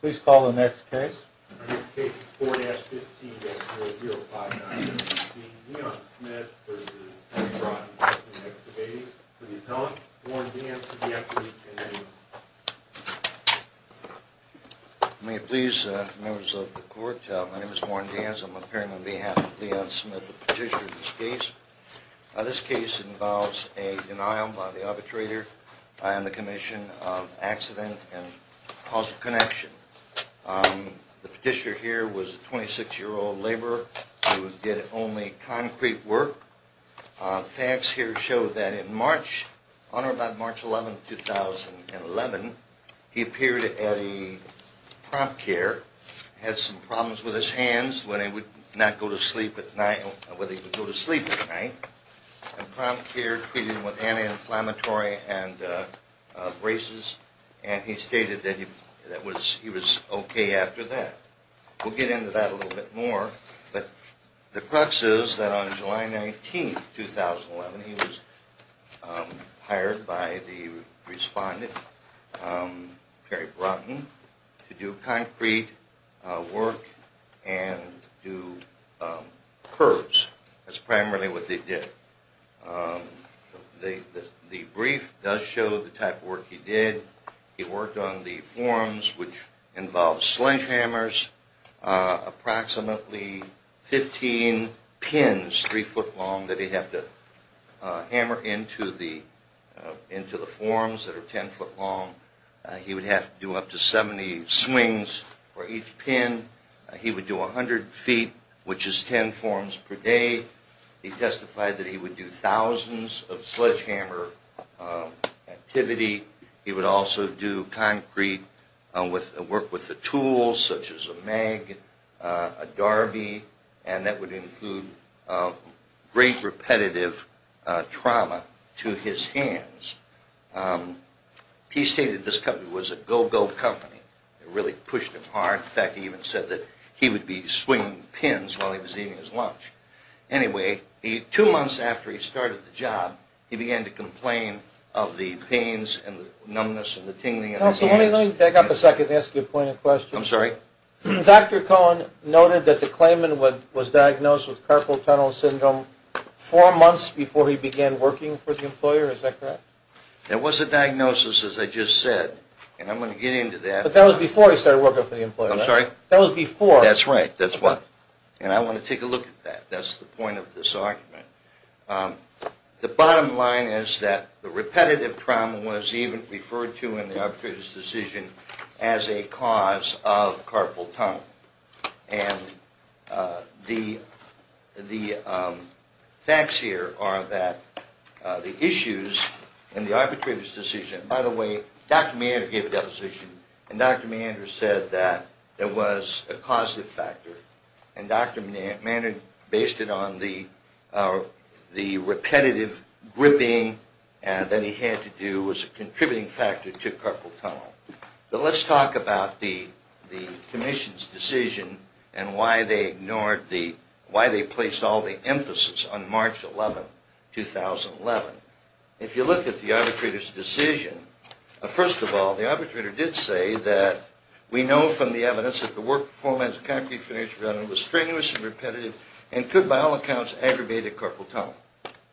Please call the next case. The next case is 4-15-0059. We're going to be seeing Leon Smith v. McBride. The next debate is for the appellant, Warren Deans, to be acted to. May it please the members of the court, my name is Warren Deans. I'm appearing on behalf of Leon Smith, the petitioner of this case. This case involves a denial by the arbitrator on the commission of accident and causal connection. The petitioner here was a 26-year-old laborer who did only concrete work. Facts here show that in March, on or about March 11, 2011, he appeared at a prompt care, had some problems with his hands when he would not go to sleep at night, when he would go to sleep at night. And prompt care treated him with anti-inflammatory and braces. And he stated that he was okay after that. We'll get into that a little bit more. But the crux is that on July 19, 2011, he was hired by the respondent, Perry Broughton, to do concrete work and do curves. That's primarily what they did. The brief does show the type of work he did. He worked on the forms, which involved sledgehammers, approximately 15 pins, 3 foot long, that he'd have to hammer into the forms that are 10 foot long. He would have to do up to 70 swings for each pin. He would do 100 feet, which is 10 forms per day. He testified that he would do thousands of sledgehammer activity. He would also do concrete work with the tools, such as a mag, a Darby, and that would include great repetitive trauma to his hands. He stated this company was a go-go company. It really pushed him hard. In fact, he even said that he would be swinging pins while he was eating his lunch. Anyway, two months after he started the job, he began to complain of the pains and the numbness and the tingling in his hands. Let me back up a second and ask you a point of question. I'm sorry? Dr. Cohen noted that the claimant was diagnosed with carpal tunnel syndrome four months before he began working for the employer. Is that correct? It was a diagnosis, as I just said. And I'm going to get into that. But that was before he started working for the employer, right? I'm sorry? That was before. That's right. That's why. And I want to take a look at that. That's the point of this argument. The bottom line is that the repetitive trauma was even referred to in the arbitrator's decision as a cause of carpal tunnel. And the facts here are that the issues in the arbitrator's decision By the way, Dr. Maynard gave a deposition. And Dr. Maynard said that it was a causative factor. And Dr. Maynard based it on the repetitive gripping that he had to do was a contributing factor to carpal tunnel. But let's talk about the commission's decision and why they placed all the emphasis on March 11, 2011. If you look at the arbitrator's decision, first of all, the arbitrator did say that we know from the evidence that the work performed as a concrete finish runner was strenuous and repetitive and could, by all accounts, aggravate a carpal tunnel.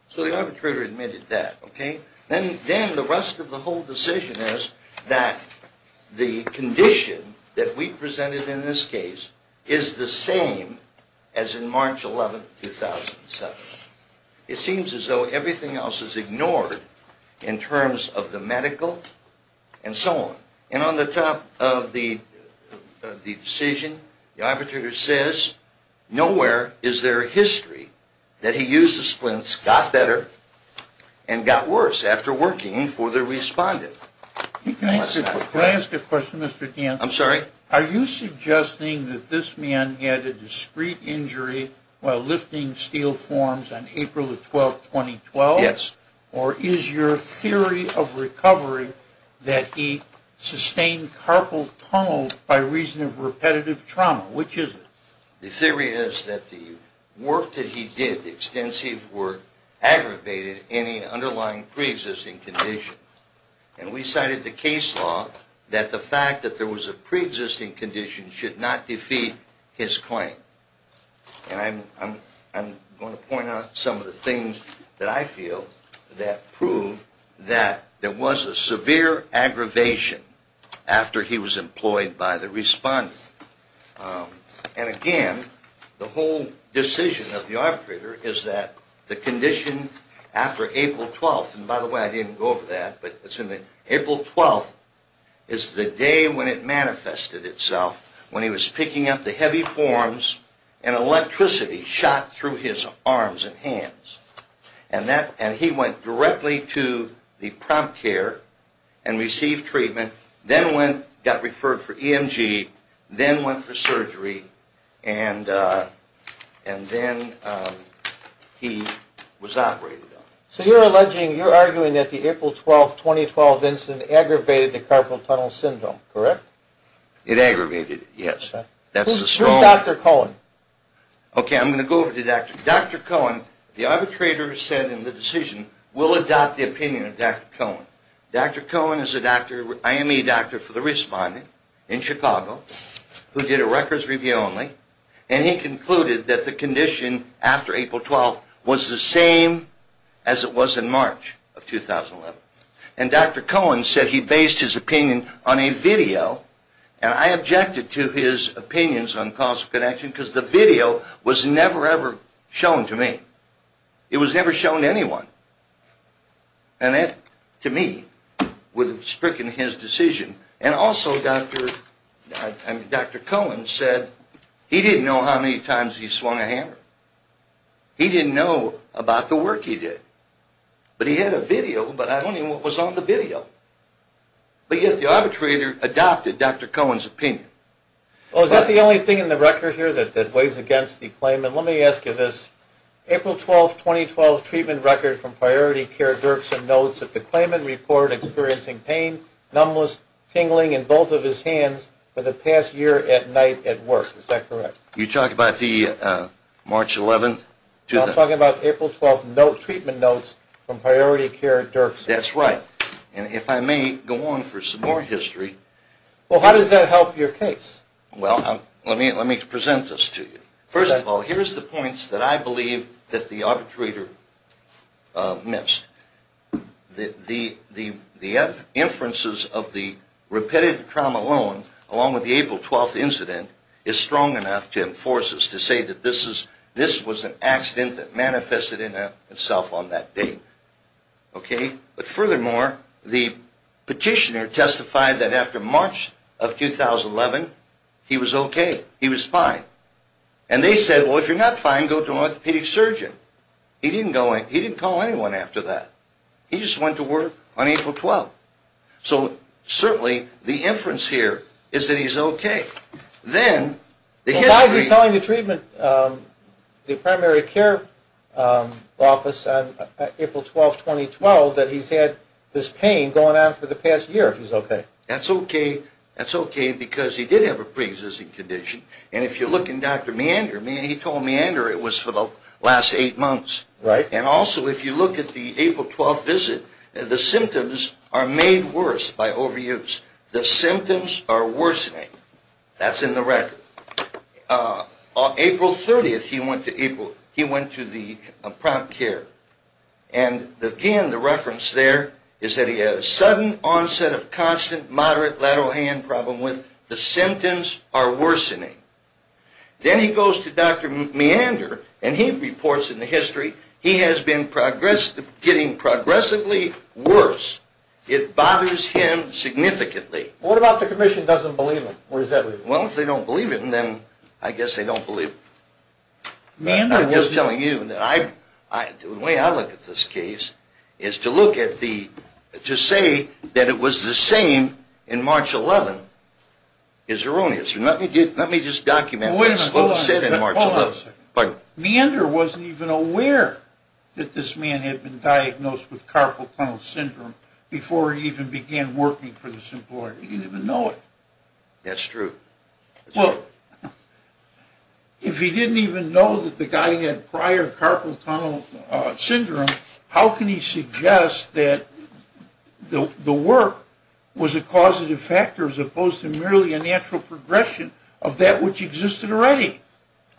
So the arbitrator admitted that, okay? Then the rest of the whole decision is that the condition that we presented in this case is the same as in March 11, 2007. It seems as though everything else is ignored in terms of the medical and so on. And on the top of the decision, the arbitrator says, nowhere is there a history that he used the splints, got better, and got worse after working for the respondent. Can I ask a question, Mr. Danforth? I'm sorry? Are you suggesting that this man had a discreet injury while lifting steel forms on April 12, 2012? Yes. Or is your theory of recovery that he sustained carpal tunnels by reason of repetitive trauma? Which is it? The theory is that the work that he did, the extensive work, aggravated any underlying preexisting condition. And we cited the case law that the fact that there was a preexisting condition should not defeat his claim. And I'm going to point out some of the things that I feel that prove that there was a severe aggravation after he was employed by the respondent. And again, the whole decision of the arbitrator is that the condition after April 12th, and by the way, I didn't go over that, but April 12th is the day when it manifested itself, when he was picking up the heavy forms and electricity shot through his arms and hands. And he went directly to the prompt care and received treatment, then went, got referred for EMG, then went for surgery, and then he was operated on. So you're alleging, you're arguing that the April 12th, 2012 incident aggravated the carpal tunnel syndrome, correct? It aggravated it, yes. Who's Dr. Cohen? Okay, I'm going to go over to Dr. Cohen. The arbitrator said in the decision, we'll adopt the opinion of Dr. Cohen. Dr. Cohen is a doctor, IME doctor for the respondent in Chicago, who did a records review only, and he concluded that the condition after April 12th was the same as it was in March of 2011. And Dr. Cohen said he based his opinion on a video, and I objected to his opinions on causal connection because the video was never, ever shown to me. It was never shown to anyone. And that, to me, would have stricken his decision. And also Dr. Cohen said he didn't know how many times he swung a hammer. He didn't know about the work he did. But he had a video, but I don't know what was on the video. But yet the arbitrator adopted Dr. Cohen's opinion. Well, is that the only thing in the record here that weighs against the claimant? Let me ask you this. April 12th, 2012 treatment record from Priority Care, Dirksen notes that the claimant reported experiencing pain, numbness, tingling in both of his hands for the past year at night at work. Is that correct? You're talking about the March 11th? I'm talking about April 12th treatment notes from Priority Care, Dirksen. That's right. And if I may go on for some more history. Well, how does that help your case? Well, let me present this to you. First of all, here's the points that I believe that the arbitrator missed. The inferences of the repetitive trauma alone, along with the April 12th incident, is strong enough to enforce us to say that this was an accident that manifested in itself on that date. Okay? But furthermore, the petitioner testified that after March of 2011, he was okay. He was fine. And they said, well, if you're not fine, go to an orthopedic surgeon. He didn't call anyone after that. He just went to work on April 12th. So certainly the inference here is that he's okay. Then the history. Well, why is he telling the treatment, the primary care office on April 12th, 2012, that he's had this pain going on for the past year if he's okay? That's okay. That's okay because he did have a preexisting condition. And if you look in Dr. Meander, he told Meander it was for the last eight months. Right. And also, if you look at the April 12th visit, the symptoms are made worse by overuse. The symptoms are worsening. That's in the record. On April 30th, he went to the prompt care. And again, the reference there is that he had a sudden onset of constant, moderate lateral hand problem with the symptoms are worsening. Then he goes to Dr. Meander, and he reports in the history, he has been getting progressively worse. It bothers him significantly. What about the commission doesn't believe it? Well, if they don't believe it, then I guess they don't believe it. I'm just telling you that the way I look at this case is to look at the, to say that it was the same in March 11th is erroneous. Let me just document what was said in March 11th. Meander wasn't even aware that this man had been diagnosed with carpal tunnel syndrome before he even began working for this employer. He didn't even know it. That's true. Well, if he didn't even know that the guy had prior carpal tunnel syndrome, how can he suggest that the work was a causative factor as opposed to merely a natural progression of that which existed already?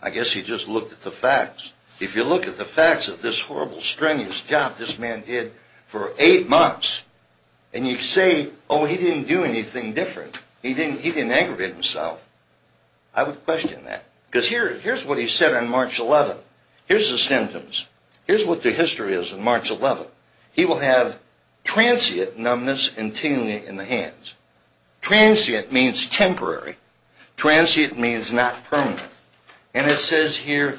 I guess he just looked at the facts. If you look at the facts of this horrible, strenuous job this man did for eight months, and you say, oh, he didn't do anything different, he didn't aggravate himself, I would question that. Because here's what he said on March 11th. Here's the symptoms. Here's what the history is on March 11th. He will have transient numbness and tingling in the hands. Transient means temporary. Transient means not permanent. And it says here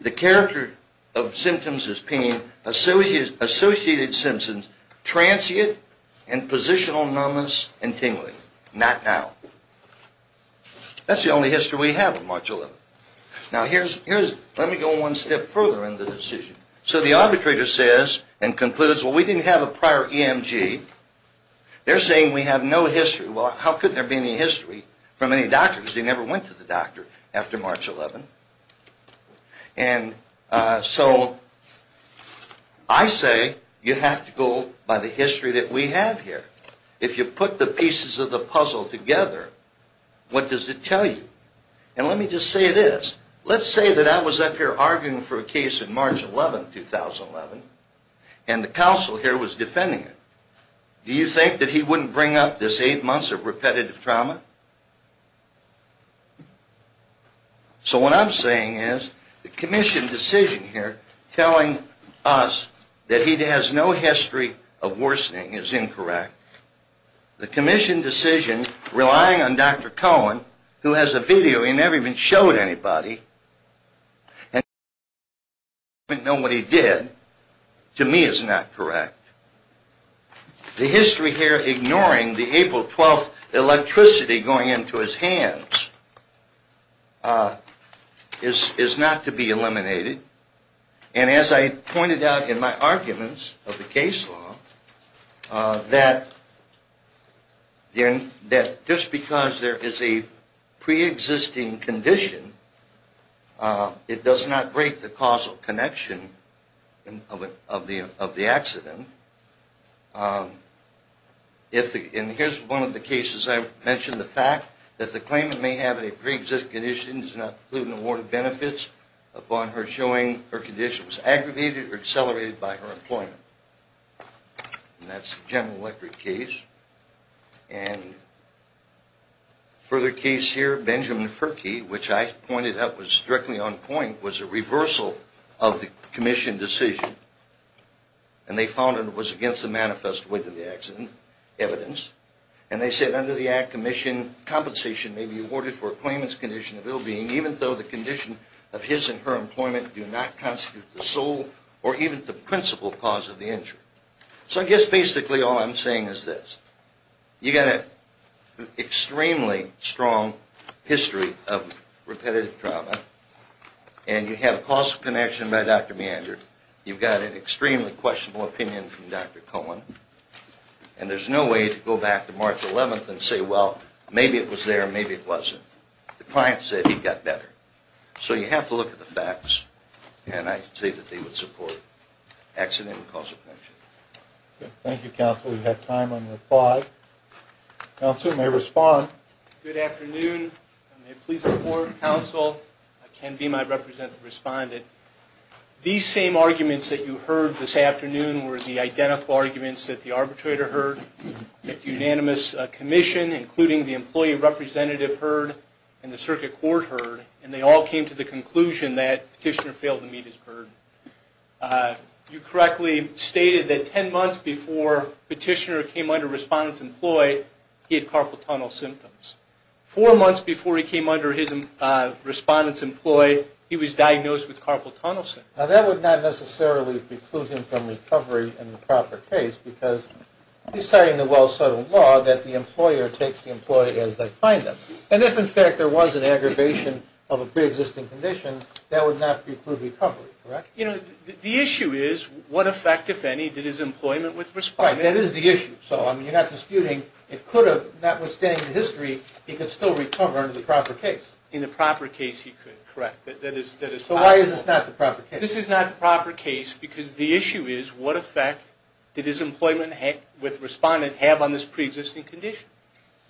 the character of symptoms is pain, associated symptoms transient and positional numbness and tingling. Not now. That's the only history we have on March 11th. Now, let me go one step further in the decision. So the arbitrator says and concludes, well, we didn't have a prior EMG. They're saying we have no history. Well, how could there be any history from any doctors? They never went to the doctor after March 11th. And so I say you have to go by the history that we have here. If you put the pieces of the puzzle together, what does it tell you? And let me just say this. Let's say that I was up here arguing for a case on March 11th, 2011, and the counsel here was defending it. Do you think that he wouldn't bring up this eight months of repetitive trauma? So what I'm saying is the commission decision here telling us that he has no history of worsening is incorrect. The commission decision relying on Dr. Cohen, who has a video he never even showed anybody, and he doesn't even know what he did, to me is not correct. The history here ignoring the April 12th electricity going into his hands is not to be eliminated. And as I pointed out in my arguments of the case law, that just because there is a preexisting condition, it does not break the causal connection of the accident. And here's one of the cases I mentioned, the fact that the claimant may have a preexisting condition does not include an award of benefits upon her showing her condition was aggravated or accelerated by her employment. And that's the general electric case. And further case here, Benjamin Ferkey, which I pointed out was strictly on point, was a reversal of the commission decision. And they found it was against the manifest within the accident evidence. And they said under the act, commission compensation may be awarded for a claimant's condition of ill-being even though the condition of his and her employment do not constitute the sole or even the principal cause of the injury. So I guess basically all I'm saying is this. You got an extremely strong history of repetitive trauma, and you have a causal connection by Dr. Meander. You've got an extremely questionable opinion from Dr. Cohen. And there's no way to go back to March 11th and say, well, maybe it was there, maybe it wasn't. The client said he got better. So you have to look at the facts. And I say that they would support accident and causal connection. Thank you, counsel. We have time on the floor. Counsel, may I respond? Good afternoon. May I please have the floor, counsel? Ken Beame, I represent the respondent. These same arguments that you heard this afternoon were the identical arguments that the arbitrator heard, that the unanimous commission, including the employee representative heard, and the circuit court heard. And they all came to the conclusion that Petitioner failed to meet his burden. You correctly stated that 10 months before Petitioner came under respondent's employ, he had carpal tunnel symptoms. Four months before he came under his respondent's employ, he was diagnosed with carpal tunnel symptoms. Now, that would not necessarily preclude him from recovery in the proper case, because he's citing the well-settled law that the employer takes the employee as they find them. And if, in fact, there was an aggravation of a preexisting condition, that would not preclude recovery, correct? You know, the issue is what effect, if any, did his employment with respondent have? Right, that is the issue. So, I mean, you're not disputing. It could have, notwithstanding the history, he could still recover in the proper case. In the proper case, he could, correct. That is possible. So why is this not the proper case? This is not the proper case, because the issue is what effect did his employment with respondent have on this preexisting condition?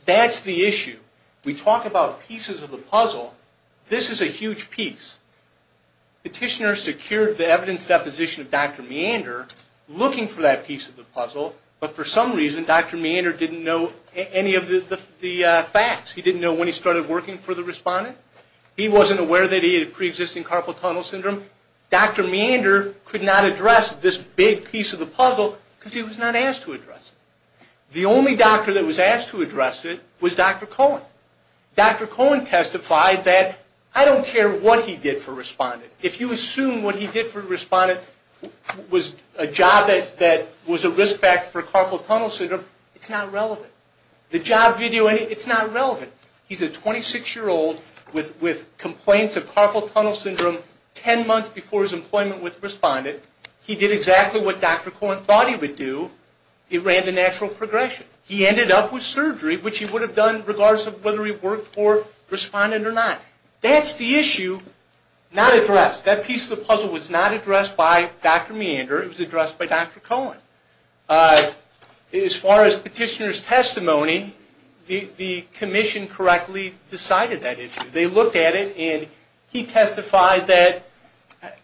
That's the issue. We talk about pieces of the puzzle. This is a huge piece. Petitioner secured the evidence deposition of Dr. Meander, looking for that piece of the puzzle, but for some reason, Dr. Meander didn't know any of the facts. He didn't know when he started working for the respondent. He wasn't aware that he had preexisting carpal tunnel syndrome. Dr. Meander could not address this big piece of the puzzle, because he was not asked to address it. The only doctor that was asked to address it was Dr. Cohen. Dr. Cohen testified that, I don't care what he did for respondent. If you assume what he did for respondent was a job that was a risk factor for carpal tunnel syndrome, it's not relevant. The job video, it's not relevant. He's a 26-year-old with complaints of carpal tunnel syndrome 10 months before his employment with respondent. He did exactly what Dr. Cohen thought he would do. He ran the natural progression. He ended up with surgery, which he would have done regardless of whether he worked for respondent or not. That's the issue not addressed. That piece of the puzzle was not addressed by Dr. Meander. It was addressed by Dr. Cohen. As far as petitioner's testimony, the commission correctly decided that issue. They looked at it, and he testified that,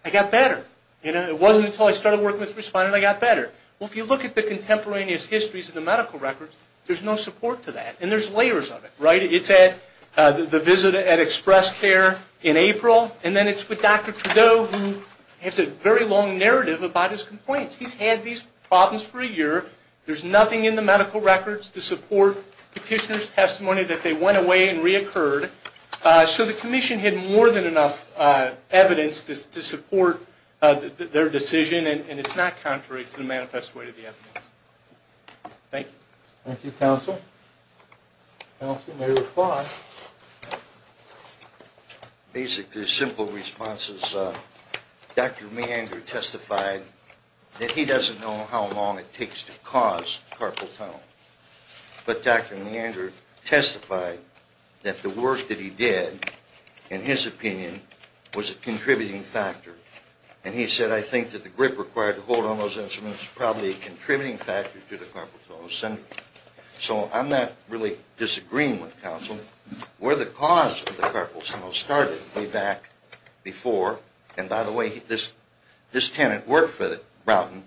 I got better. It wasn't until I started working with respondent I got better. Well, if you look at the contemporaneous histories of the medical records, there's no support to that, and there's layers of it. It's at the visit at Express Care in April, and then it's with Dr. Trudeau who has a very long narrative about his complaints. He's had these problems for a year. There's nothing in the medical records to support petitioner's testimony that they went away and reoccurred. So the commission had more than enough evidence to support their decision, and it's not contrary to the manifest way of the evidence. Thank you. Thank you, counsel. Counsel, you may reply. Basically, simple responses. Dr. Meander testified that he doesn't know how long it takes to cause carpal tunnel, but Dr. Meander testified that the work that he did, in his opinion, was a contributing factor. And he said, I think that the grip required to hold on those instruments is probably a contributing factor to the carpal tunnel syndrome. So I'm not really disagreeing with counsel. Where the cause of the carpal tunnel started way back before, and by the way, this tenant worked for Broughton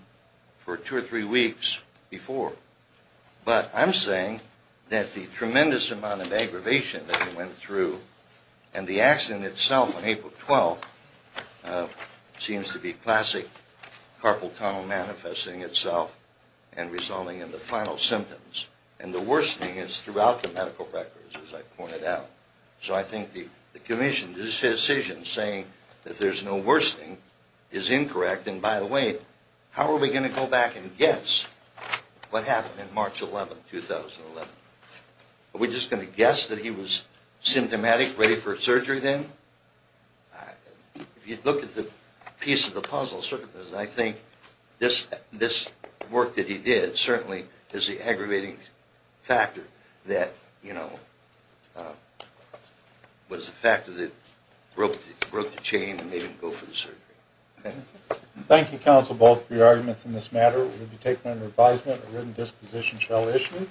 for two or three weeks before. But I'm saying that the tremendous amount of aggravation that he went through, and the accident itself on April 12th, seems to be classic carpal tunnel manifesting itself and resulting in the final symptoms. And the worsening is throughout the medical records, as I pointed out. So I think the commission's decision saying that there's no worsening is incorrect. And by the way, how are we going to go back and guess what happened on March 11th, 2011? Are we just going to guess that he was symptomatic, ready for surgery then? If you look at the piece of the puzzle, I think this work that he did certainly is the aggravating factor that, you know, was the factor that broke the chain and made him go for the surgery. Thank you, counsel, both for your arguments in this matter. We will be taking under advisement a written disposition shall issue.